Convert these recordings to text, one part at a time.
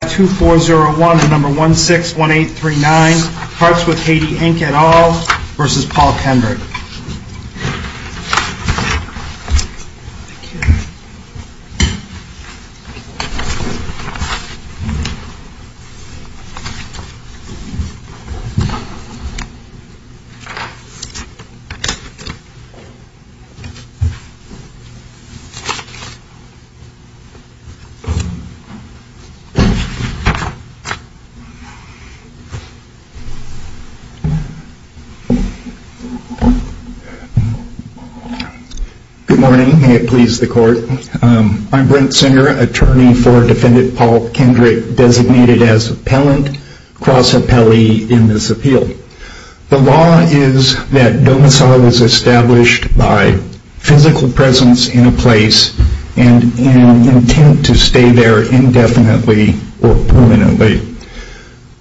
Parts With Haiti, Inc. et al. v. Paul Kendrick Good morning. May it please the Court. I'm Brent Singer, attorney for defendant Paul Kendrick, designated as appellant, cross-appellee in this appeal. The law is that domicile is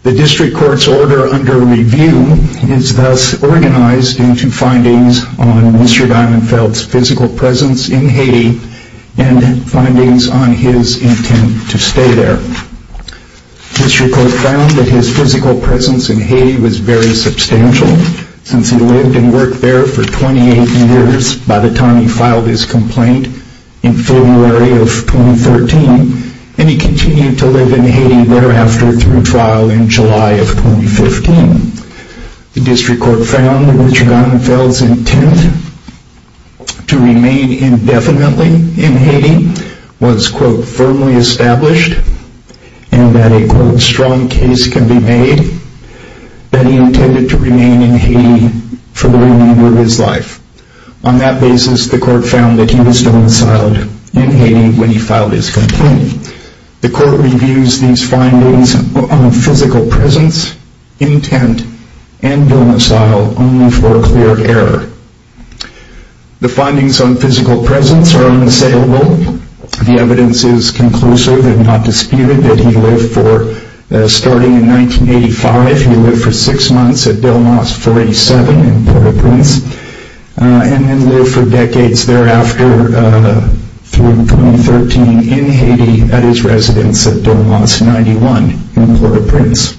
The District Court's order under review is thus organized into findings on Mr. Dimonfeld's physical presence in Haiti and findings on his intent to stay there. The District Court found that his physical presence in Haiti was very substantial, since he lived and worked there for 28 years by the time he filed his complaint in February of 2013, and he continued to live in Haiti thereafter through trial in July of 2015. The District Court found that Mr. Dimonfeld's intent to remain indefinitely in Haiti was firmly established, and that a strong case can be made that he intended to remain in Haiti for the remainder of his life. On that basis, the Court found that he was domiciled in Haiti when he filed his complaint. The Court reviews these findings on physical presence, intent, and domicile only for clear error. The findings on physical presence are unassailable. The evidence is conclusive and not disputed that he lived for, starting in 1985, he lived for six months at Delmas 47 in Port-au-Prince, and then lived for decades thereafter through 2013 in Haiti at his residence at Delmas 91 in Port-au-Prince.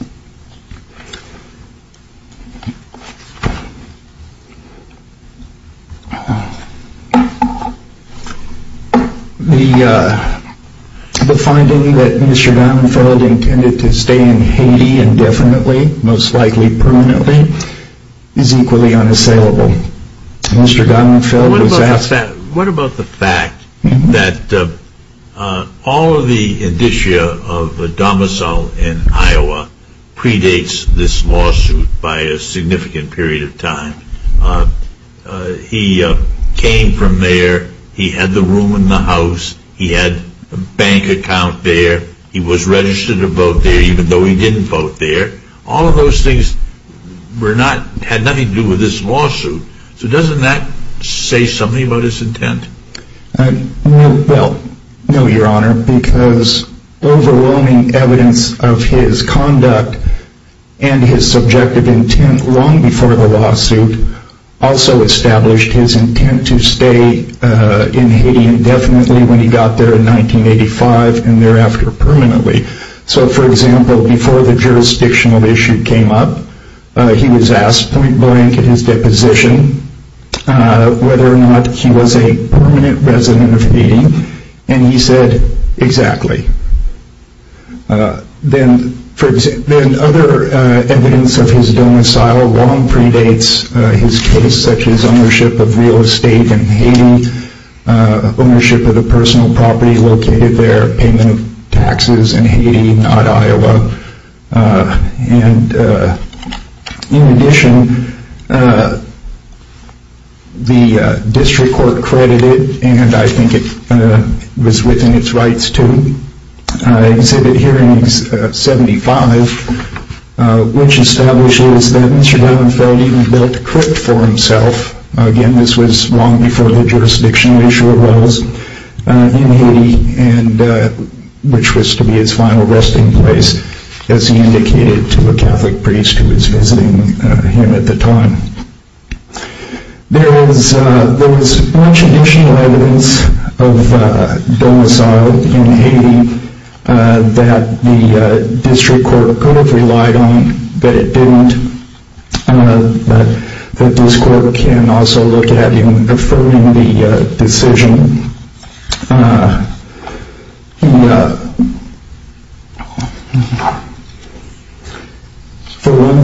The finding that Mr. Dimonfeld intended to stay in Haiti indefinitely, most likely permanently, is equally unassailable. Mr. Dimonfeld was asked... What about the fact that all of the indicia of domicile in Iowa predates this lawsuit by a significant period of time? He came from there, he had the room in the house, he had a bank account there, he was registered to vote there even though he didn't vote there. All of those things had nothing to do with this lawsuit. So doesn't that say something about his intent? Well, no, your honor, because overwhelming evidence of his conduct and his subjective intent long before the lawsuit also established his intent to stay in Haiti indefinitely when he got there in 1985 and thereafter permanently. So, for example, before the jurisdictional issue came up, he was asked point blank at his deposition whether or not he was a permanent resident of Haiti, and he said, exactly. Then other evidence of his domicile long predates his case, such as ownership of real estate in Haiti, ownership of the personal property located there, payment of taxes in Haiti, not Iowa. And, in addition, the district court credited, and I think it was within its rights to, Exhibit Hearing 75, which establishes that Mr. Gallifrey even built a crypt for himself. Again, this was long before the jurisdictional issue arose in Haiti, which was to be his final resting place, as he indicated to a Catholic priest who was visiting him at the time. There was much additional evidence of domicile in Haiti that the district court could have For one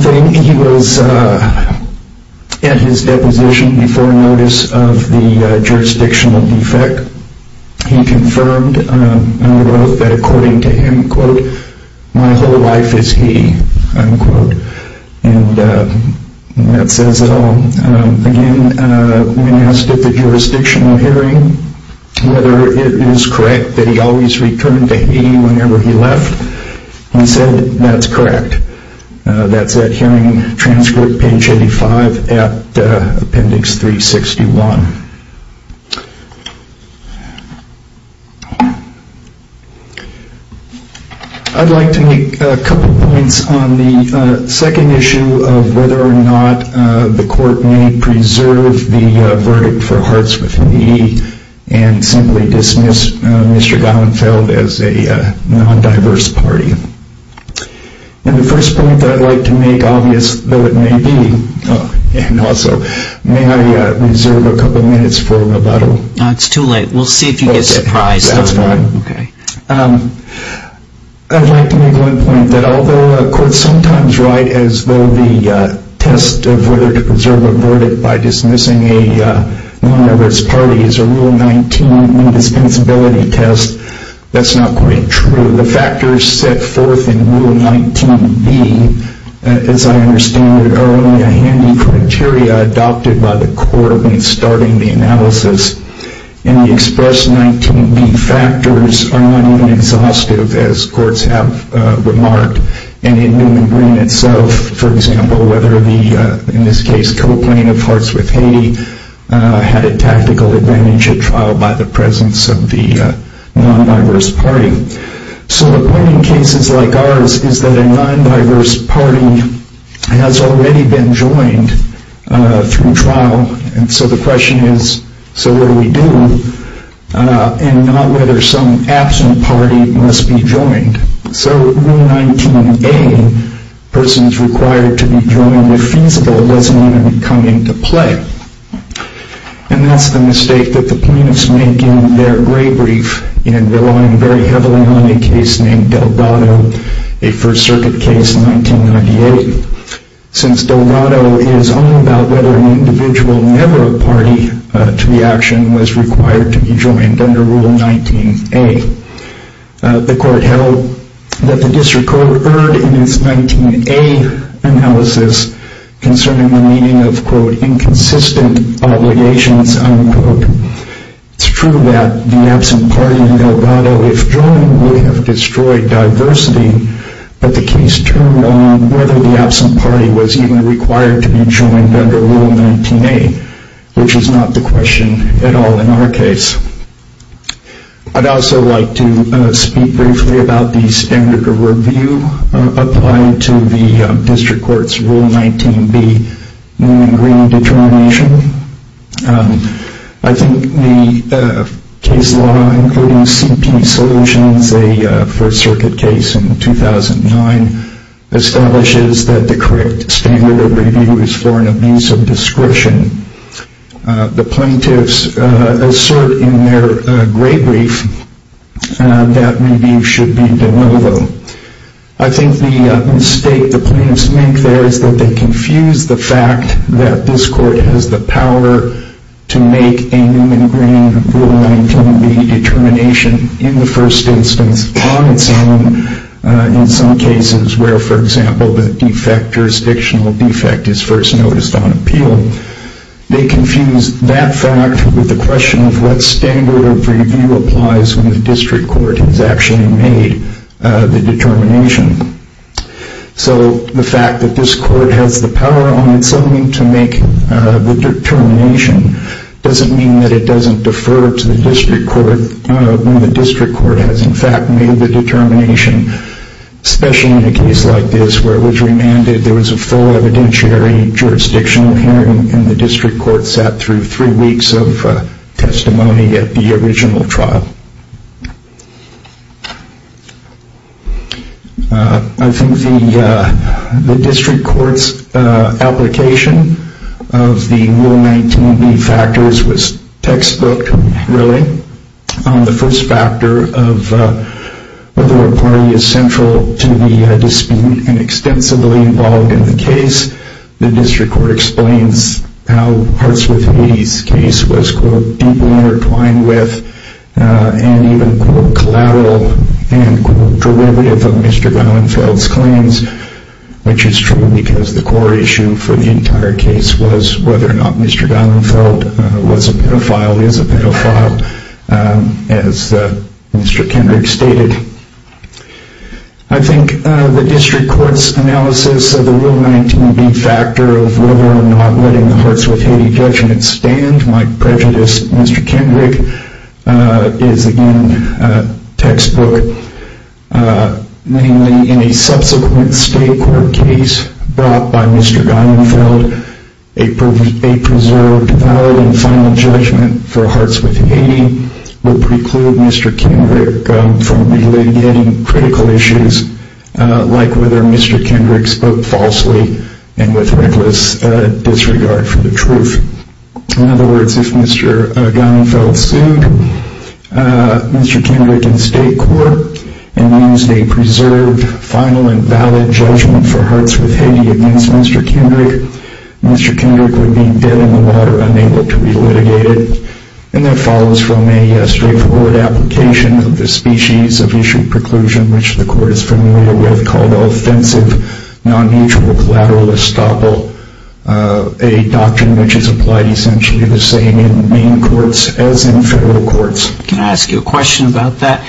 thing, he was at his deposition before notice of the jurisdictional defect. He confirmed and wrote that, according to him, quote, my whole life is Haiti, unquote. And that says it all. Again, when asked at the jurisdictional hearing whether it is correct that he always returned to Haiti whenever he left, he said, that's correct. That's that hearing transcript, page 85, at appendix 361. I'd like to make a couple points on the second issue of whether or not the court may preserve the verdict for Hartz V, and simply dismiss Mr. Gallenfeld as a non-diverse party. And the first point that I'd like to make, obvious though it may be, and also may I reserve a little. It's too late. We'll see if you get surprised. That's fine. I'd like to make one point, that although courts sometimes write as though the test of whether to preserve a verdict by dismissing a non-diverse party is a Rule 19 indispensability test, that's not quite true. The factors set forth in Rule 19b, as I understand it, are only a handy criteria adopted by the court in starting the analysis. And the express 19b factors are not even exhaustive, as courts have remarked. And in Newman Green itself, for example, whether the, in this case, coplain of Hartz V Haiti, had a tactical advantage at trial by the presence of the non-diverse party. So the point in cases like ours is that a non-diverse party has already been joined through trial. And so the question is, so what do we do? And not whether some absent party must be joined. So Rule 19a, persons required to be joined if feasible, doesn't even come into play. And that's the mistake that the plaintiffs make in their gray brief in relying very heavily on a case named Delgado, a First Circuit case in 1998. Since Delgado is only about whether an individual never a party to the action was required to be joined under Rule 19a. The court held that the district court erred in its 19a analysis concerning the meaning of, quote, inconsistent obligations, unquote. It's true that the absent party in Delgado, if joined, would have destroyed diversity. But the case turned on whether the absent party was even required to be joined under Rule 19a, which is not the question at all in our case. I'd also like to speak briefly about the standard of review applied to the district court's Rule 19b, Moon and Green determination. I think the case law including CP Solutions, a First Circuit case in 2009, establishes that the correct standard of review is for an abuse of discretion. The plaintiffs assert in their gray brief that the standard of review should be de novo. I think the mistake the plaintiffs make there is that they confuse the fact that this court has the power to make a Moon and Green Rule 19b determination in the first instance on its own in some cases where, for example, the defect, jurisdictional defect, is first noticed on appeal. They confuse that fact with the question of what standard of review applies when the district court has actually made the determination. So the fact that this court has the power on its own to make the determination doesn't mean that it doesn't defer to the district court when the district court has in fact made the determination, especially in a case like this where it was remanded, there was a full evidentiary jurisdictional hearing and the district court sat through three weeks of testimony at the original trial. I think the district court's application of the Rule 19b factors was textbook, really. The first factor of whether a party is central to the dispute and extensively involved in the case, the district court explains how Hartsworth-Meadie's case was, quote, deeply intertwined with and even, quote, collateral and, quote, derivative of Mr. Geilenfeld's claims, which is true because the core issue for the entire case was whether or not Mr. Geilenfeld was a pedophile, is a pedophile, as Mr. Kendrick stated. I think the district court's analysis of the Rule 19b factor of whether or not letting the Hartsworth-Meadie judgment stand might prejudice Mr. Kendrick, is again textbook. Namely, in a subsequent state court case brought by Mr. Geilenfeld, a preserved valid and final judgment for Hartsworth-Meadie would preclude Mr. Kendrick from relitigating critical issues like whether Mr. Kendrick spoke falsely and with reckless disregard for the truth. In other words, if Mr. Geilenfeld sued Mr. Kendrick in state court and used a preserved final and valid judgment for Hartsworth-Meadie against Mr. Kendrick, Mr. Kendrick would be put in the water, unable to be litigated. And that follows from a straightforward application of the species of issue preclusion, which the court is familiar with, called offensive non-mutual collateral estoppel, a doctrine which is applied essentially the same in Maine courts as in federal courts. Can I ask you a question about that?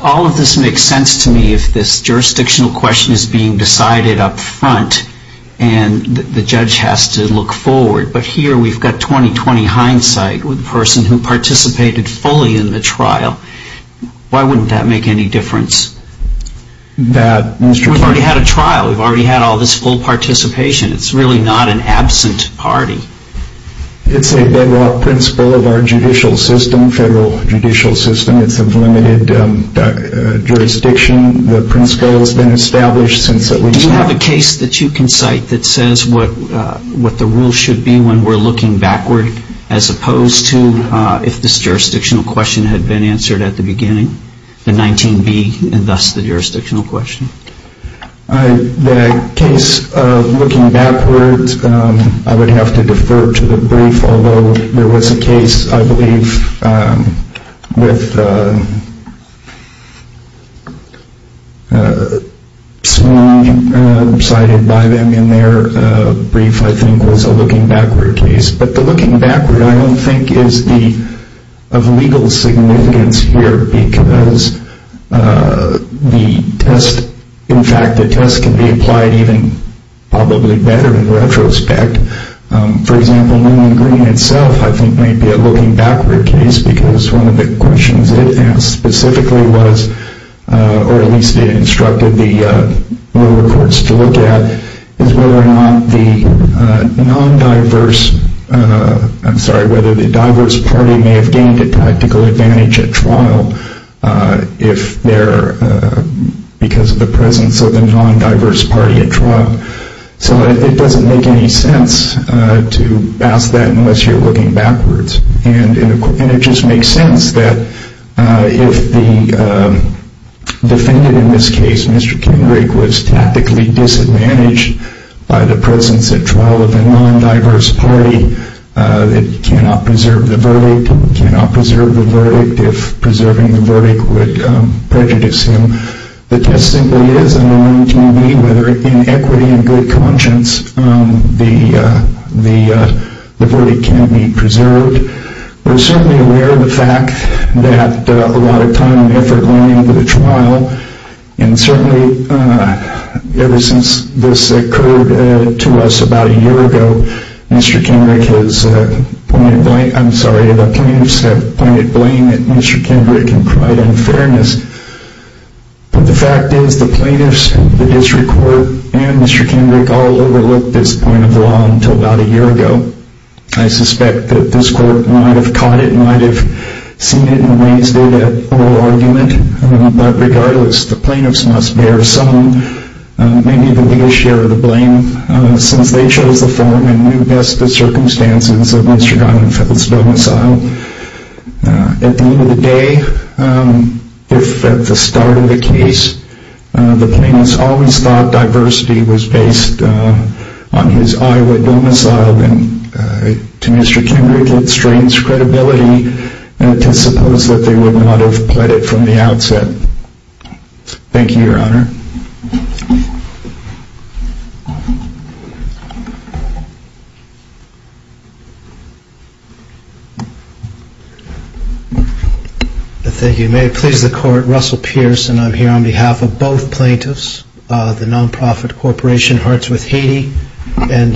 All of this makes sense to me if this jurisdictional question is being decided up front and the court. But here we've got 20-20 hindsight with the person who participated fully in the trial. Why wouldn't that make any difference? We've already had a trial. We've already had all this full participation. It's really not an absent party. It's a bedrock principle of our judicial system, federal judicial system. It's of limited jurisdiction. The principle has been established since that we... Do you have a case that you can cite that says what the rule should be when we're looking backward as opposed to if this jurisdictional question had been answered at the beginning, the 19B and thus the jurisdictional question? The case of looking backwards, I would have to defer to the brief, although there was a case, I believe, with... Cited by them in their brief, I think, was a looking backward case. But the looking backward, I don't think, is of legal significance here because the test... In fact, the test can be applied even probably better in retrospect. For example, New England Green itself, I think, may be a looking backward case because one of the questions it asked specifically was, or at least it instructed the lower courts to look at, is whether or not the non-diverse... I'm sorry, whether the diverse party may have gained a practical advantage at trial because of the presence of the non-diverse party at trial. So it doesn't make any sense to ask that unless you're looking backwards. And it just makes sense that if the defendant in this case, Mr. Kendrick, was tactically disadvantaged by the presence at trial of a non-diverse party, it cannot preserve the verdict, cannot preserve the verdict if preserving the verdict would prejudice him. The test simply is a knowing to me whether in equity and good conscience the verdict can be preserved. We're certainly aware of the fact that a lot of time and effort went into the trial. And certainly ever since this occurred to us about a year ago, Mr. Kendrick has pointed blame at Mr. Kendrick and cried unfairness. But the fact is the plaintiffs, the district court, and Mr. Kendrick all overlooked this point of the law until about a year ago. I suspect that this court might have caught it, might have seen it and raised it at oral argument. But regardless, the plaintiffs must bear some, maybe the biggest share of the blame since they chose the form and knew best the circumstances of Mr. Gottenfeld's domicile. At the end of the day, if at the start of the case, the plaintiffs always thought diversity was based on his Iowa domicile, then to Mr. Kendrick it strains credibility to suppose that they would not have pled it from the outset. Thank you, Your Honor. Thank you. May it please the court, Russell Pierce and I'm here on behalf of both plaintiffs, the non-profit corporation Hearts with Haiti and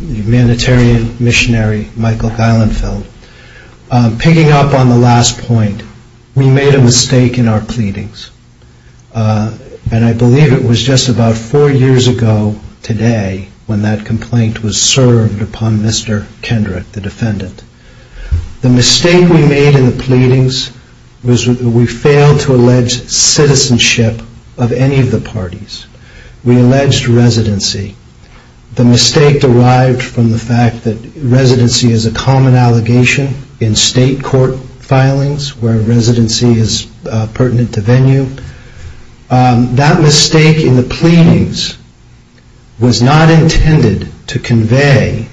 humanitarian missionary Michael Geilenfeld. Picking up on the last point, we made a mistake in our pleadings. And I believe it was just about four years ago today when that complaint was served upon Mr. Kendrick, the defendant. The mistake we made in the pleadings was we failed to allege citizenship of any of the parties. We alleged residency. The mistake derived from the fact that residency is a common allegation in state court filings where residency is pertinent to venue. That mistake in the pleadings was not intended to convey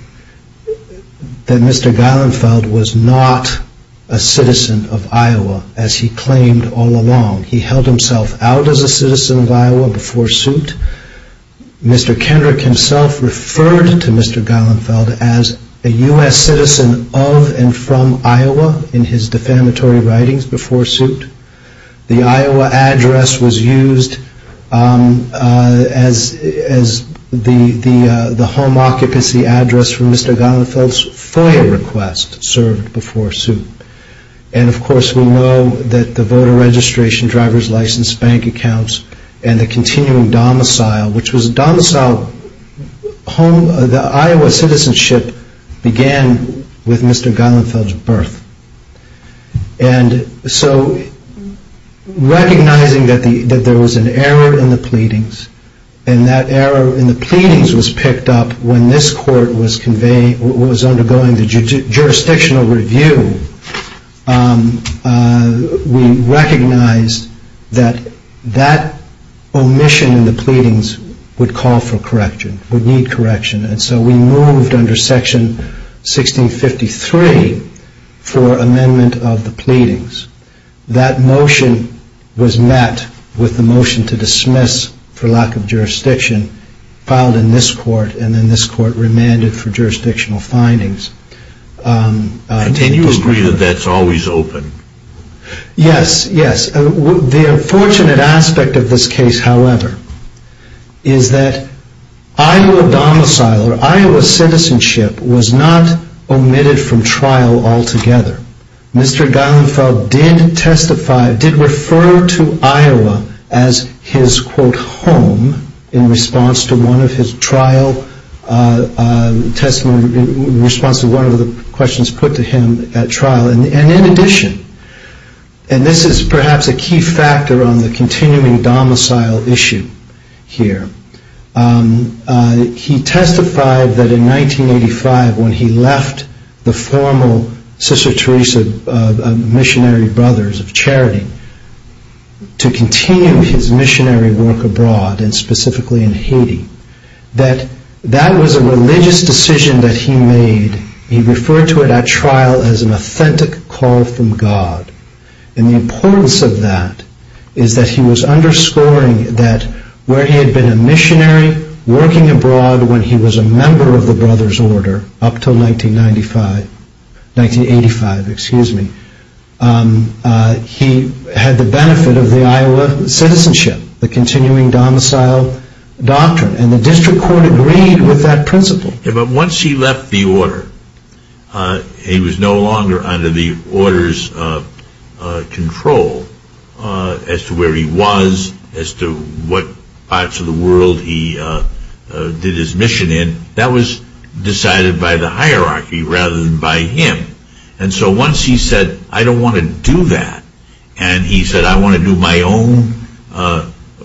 that Mr. Geilenfeld was not a citizen of Iowa as he claimed all along. He held himself out as a citizen of Iowa before suit. Mr. Kendrick himself referred to Mr. Geilenfeld as a U.S. citizen of and from Iowa in his defamatory writings before suit. The Iowa address was used as the home occupancy address for Mr. Geilenfeld's FOIA request served before suit. And of course we know that the voter registration, driver's license, bank accounts and the continuing And so recognizing that there was an error in the pleadings and that error in the pleadings was picked up when this court was undergoing the jurisdictional review, we recognized that that omission in the pleadings would call for correction, would need correction. And so we moved under section 1653 for amendment of the pleadings. That motion was met with the motion to dismiss for lack of jurisdiction filed in this court and then this court remanded for jurisdictional findings. And you agree that that's always open? Yes, yes. The unfortunate aspect of this case, however, is that Iowa domicile or Iowa citizenship was not omitted from trial altogether. Mr. Geilenfeld did testify, did refer to Iowa as his quote home in response to one of his trial testimony, in response to one of the questions put to him at trial. And in addition, and this is perhaps a key factor on the continuing domicile issue here, he testified that in 1985 when he left the formal Sister Teresa Missionary Brothers of Charity to continue his missionary work abroad and specifically in Haiti, that that was a religious decision that he made, he referred to it at trial as an authentic call from God. And the importance of that is that he was underscoring that where he had been a missionary working abroad when he was a member of the Brothers Order up until 1985, he had the benefit of the Iowa citizenship, the continuing domicile doctrine. And the district court agreed with that principle. But once he left the order, he was no longer under the order's control as to where he was, as to what parts of the world he did his mission in. That was decided by the hierarchy rather than by him. And so once he said, I don't want to do that, and he said, I want to do my own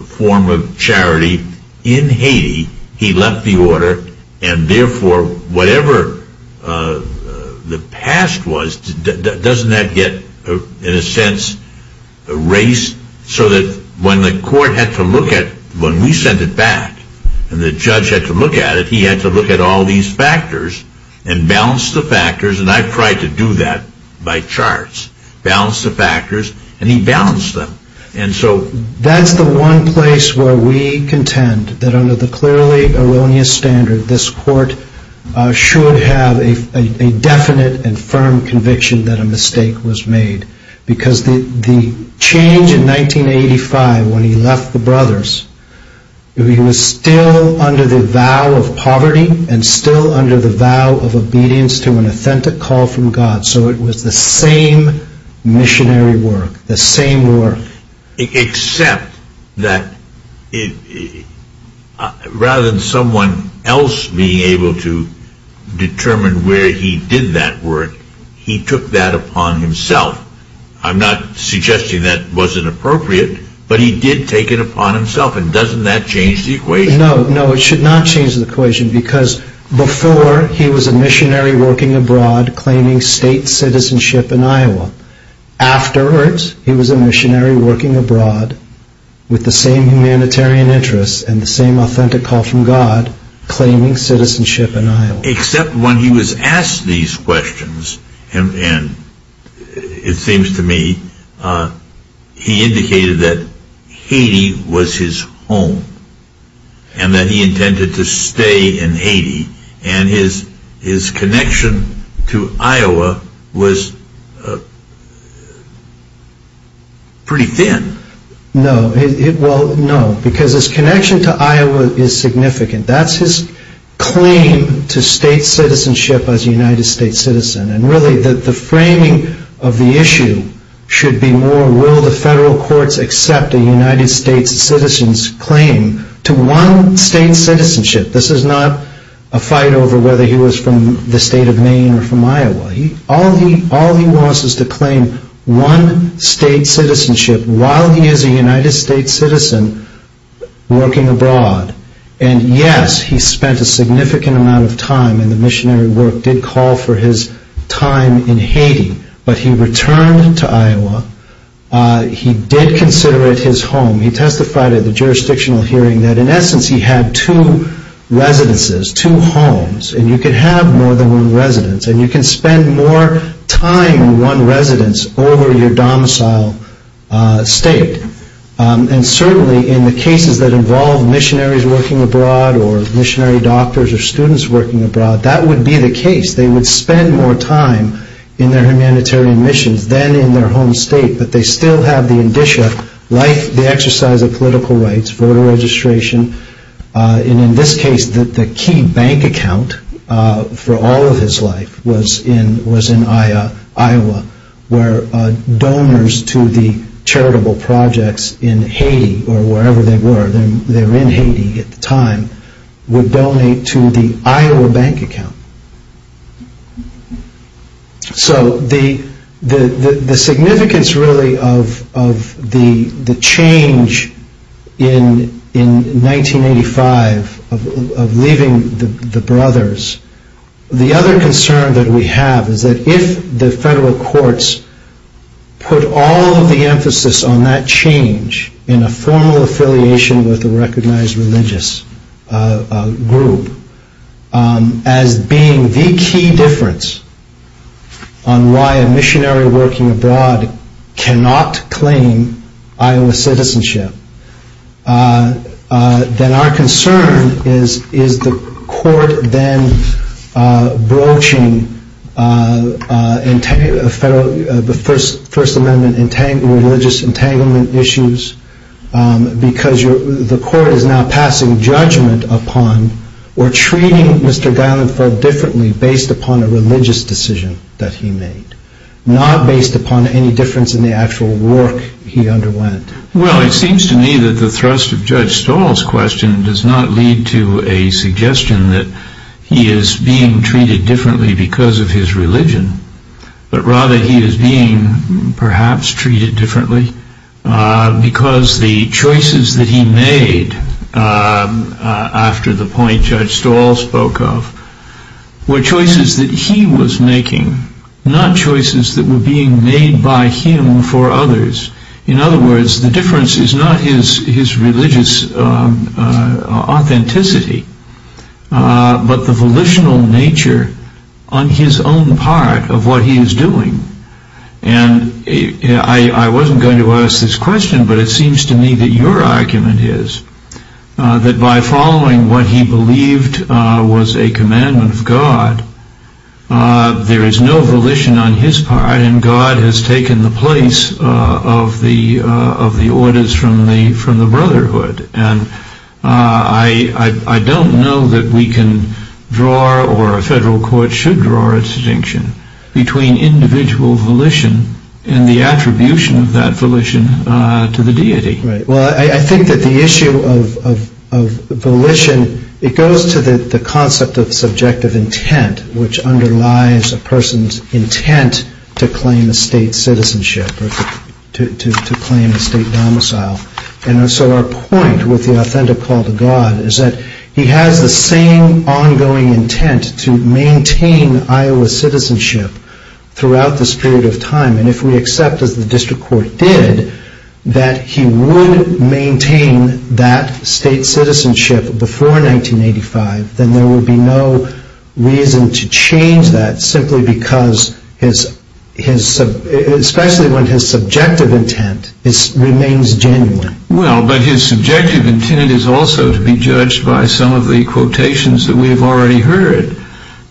form of charity in Haiti, he left the order. And therefore, whatever the past was, doesn't that get, in a sense, erased? So that when the court had to look at, when we sent it back and the judge had to look at it, he had to look at all these factors and balance the factors. And I've tried to do that by charts, balance the factors, and he balanced them. And so that's the one place where we contend that under the clearly erroneous standard, this court should have a definite and firm conviction that a mistake was made. Because the change in 1985 when he left the Brothers, he was still under the vow of poverty and still under the vow of obedience to an authentic call from God. So it was the same missionary work, the same work. Except that rather than someone else being able to determine where he did that work, he took that upon himself. I'm not suggesting that wasn't appropriate, but he did take it upon himself. And doesn't that change the equation? No, no, it should not change the equation. Because before he was a missionary working abroad, claiming state citizenship in Iowa. After it, he was a missionary working abroad with the same humanitarian interests and the same authentic call from God, claiming citizenship in Iowa. Except when he was asked these questions, and it seems to me, he indicated that Haiti was his home. And that he intended to stay in Haiti. And his connection to Iowa was pretty thin. No, well, no. Because his connection to Iowa is significant. That's his claim to state citizenship as a United States citizen. And really the framing of the issue should be more, will the federal courts accept a United States citizen's claim to one state citizenship? This is not a fight over whether he was from the state of Maine or from Iowa. All he wants is to claim one state citizenship while he is a United States citizen working abroad. And yes, he spent a significant amount of time, and the missionary work did call for his time in Haiti. But he returned to Iowa. He did consider it his home. He testified at the jurisdictional hearing that in essence he had two residences, two homes. And you can have more than one residence. And you can spend more time in one residence over your domicile state. And certainly in the cases that involve missionaries working abroad or missionary doctors or students working abroad, that would be the case. They would spend more time in their humanitarian missions than in their home state. But they still have the indicia like the exercise of political rights, voter registration. And in this case, the key bank account for all of his life was in Iowa where donors to the charitable projects in Haiti or wherever they were. They were in Haiti at the time, would donate to the Iowa bank account. So the significance really of the change in 1985 of leaving the brothers. The other concern that we have is that if the federal courts put all of the emphasis on that change in a formal affiliation with a recognized religious group as being the key difference on why a missionary working abroad cannot claim Iowa citizenship, then our concern is, is the court then broaching the First Amendment religious entanglement issues because the court is now passing judgment upon or treating Mr. Geilenfeld differently based upon a religious decision that he made. Not based upon any difference in the actual work he underwent. Well, it seems to me that the thrust of Judge Stahl's question does not lead to a suggestion that he is being treated differently because of his religion, but rather he is being perhaps treated differently because the choices that he made after the point Judge Stahl spoke of were choices that he was making, not choices that were being made by him for others. In other words, the difference is not his religious authenticity, but the volitional nature on his own part of what he is doing. And I wasn't going to ask this question, but it seems to me that your argument is that by following what he believed was a commandment of God, there is no volition on his part and God has taken the place of the orders from the Brotherhood. And I don't know that we can draw or a federal court should draw a distinction between individual volition and the attribution of that volition to the deity. Well, I think that the issue of volition, it goes to the concept of subjective intent, which underlies a person's intent to claim a state citizenship or to claim a state domicile. And so our point with the authentic call to God is that he has the same ongoing intent to maintain Iowa's citizenship throughout this period of time. And if we accept, as the district court did, that he would maintain that state citizenship before 1985, then there would be no reason to change that simply because, especially when his subjective intent remains genuine. Well, but his subjective intent is also to be judged by some of the quotations that we have already heard.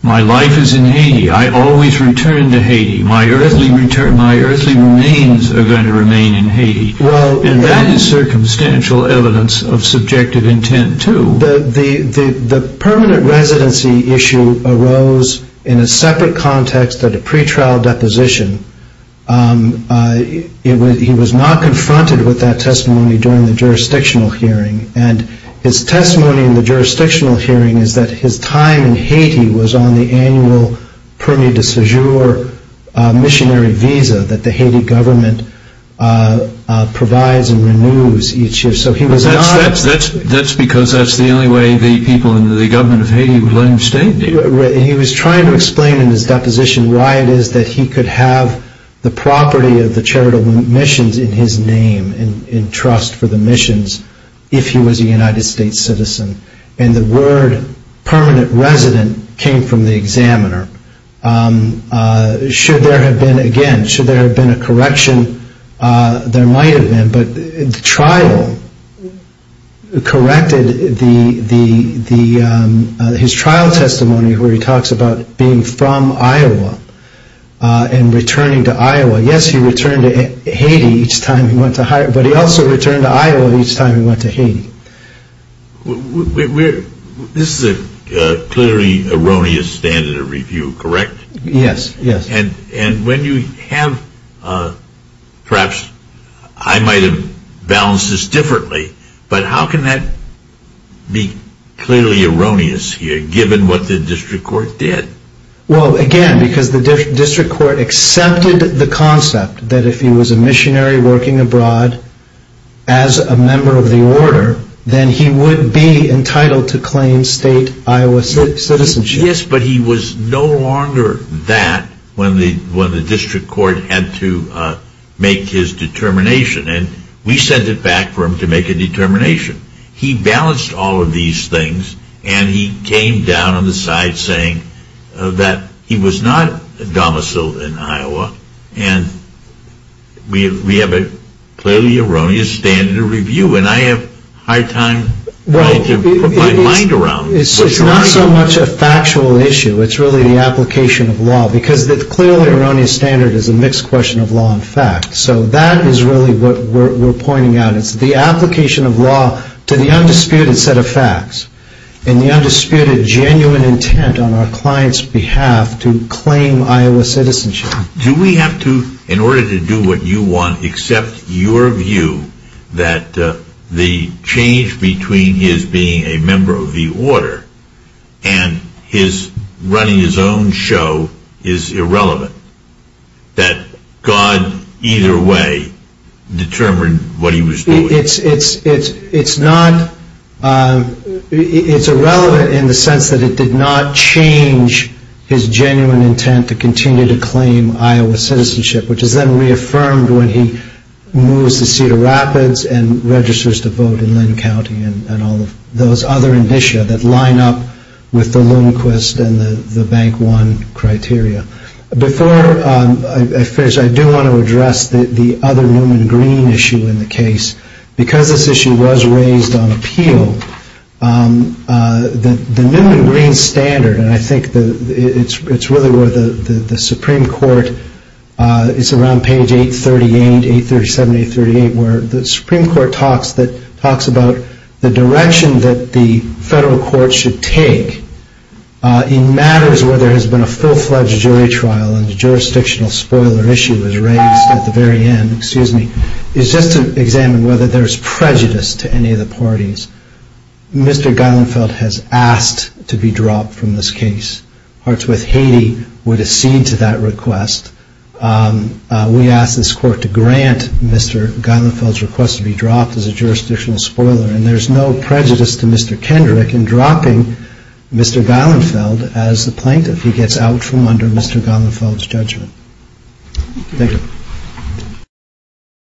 My life is in Haiti, I always return to Haiti, my earthly remains are going to remain in Haiti. And that is circumstantial evidence of subjective intent too. The permanent residency issue arose in a separate context at a pretrial deposition. He was not confronted with that testimony during the jurisdictional hearing. And his testimony in the jurisdictional hearing is that his time in Haiti was on the annual permi de cejour missionary visa that the Haiti government provides and renews each year. That's because that's the only way the people in the government of Haiti would let him stay. He was trying to explain in his deposition why it is that he could have the property of the charitable missions in his name and trust for the missions if he was a United States citizen. And the word permanent resident came from the examiner. Should there have been, again, should there have been a correction, there might have been, but the trial corrected his trial testimony where he talks about being from Iowa and returning to Iowa. Yes, he returned to Haiti, but he also returned to Iowa each time he went to Haiti. This is a clearly erroneous standard of review, correct? Yes, yes. And when you have, perhaps I might have balanced this differently, but how can that be clearly erroneous here given what the district court did? Well, again, because the district court accepted the concept that if he was a missionary working abroad as a member of the order, then he would be entitled to claim state Iowa citizenship. Yes, but he was no longer that when the district court had to make his determination. And we sent it back for him to make a determination. He balanced all of these things and he came down on the side saying that he was not a domicile in Iowa and we have a clearly erroneous standard of review. And I have a hard time trying to put my mind around it. It's not so much a factual issue, it's really the application of law, because the clearly erroneous standard is a mixed question of law and fact. So that is really what we're pointing out. It's the application of law to the undisputed set of facts and the undisputed genuine intent on our client's behalf to claim Iowa citizenship. Do we have to, in order to do what you want, accept your view that the change between his being a member of the order and his running his own show is irrelevant? That God either way determined what he was doing? It's irrelevant in the sense that it did not change his genuine intent to continue to claim Iowa citizenship, which is then reaffirmed when he moves to Cedar Rapids and registers to vote in Linn County and all of those other indicia that line up with the Lundquist and the Bank One criteria. Before I finish, I do want to address the other Newman Green issue in the case. Because this issue was raised on appeal, the Newman Green standard, and I think it's really where the Supreme Court, it's around page 838, 837, 838, where the Supreme Court talks about the direction that the federal court should take in matters where there has been a full-fledged jury trial and the jurisdictional spoiler issue was raised at the very end, is just to examine whether there's prejudice to any of the parties. Mr. Geilenfeld has asked to be dropped from this case. Hartsworth, Haiti would accede to that request. We ask this court to grant Mr. Geilenfeld's request to be dropped as a jurisdictional spoiler and there's no prejudice to Mr. Kendrick in dropping Mr. Geilenfeld as the plaintiff. He gets out from under Mr. Geilenfeld's judgment. Thank you.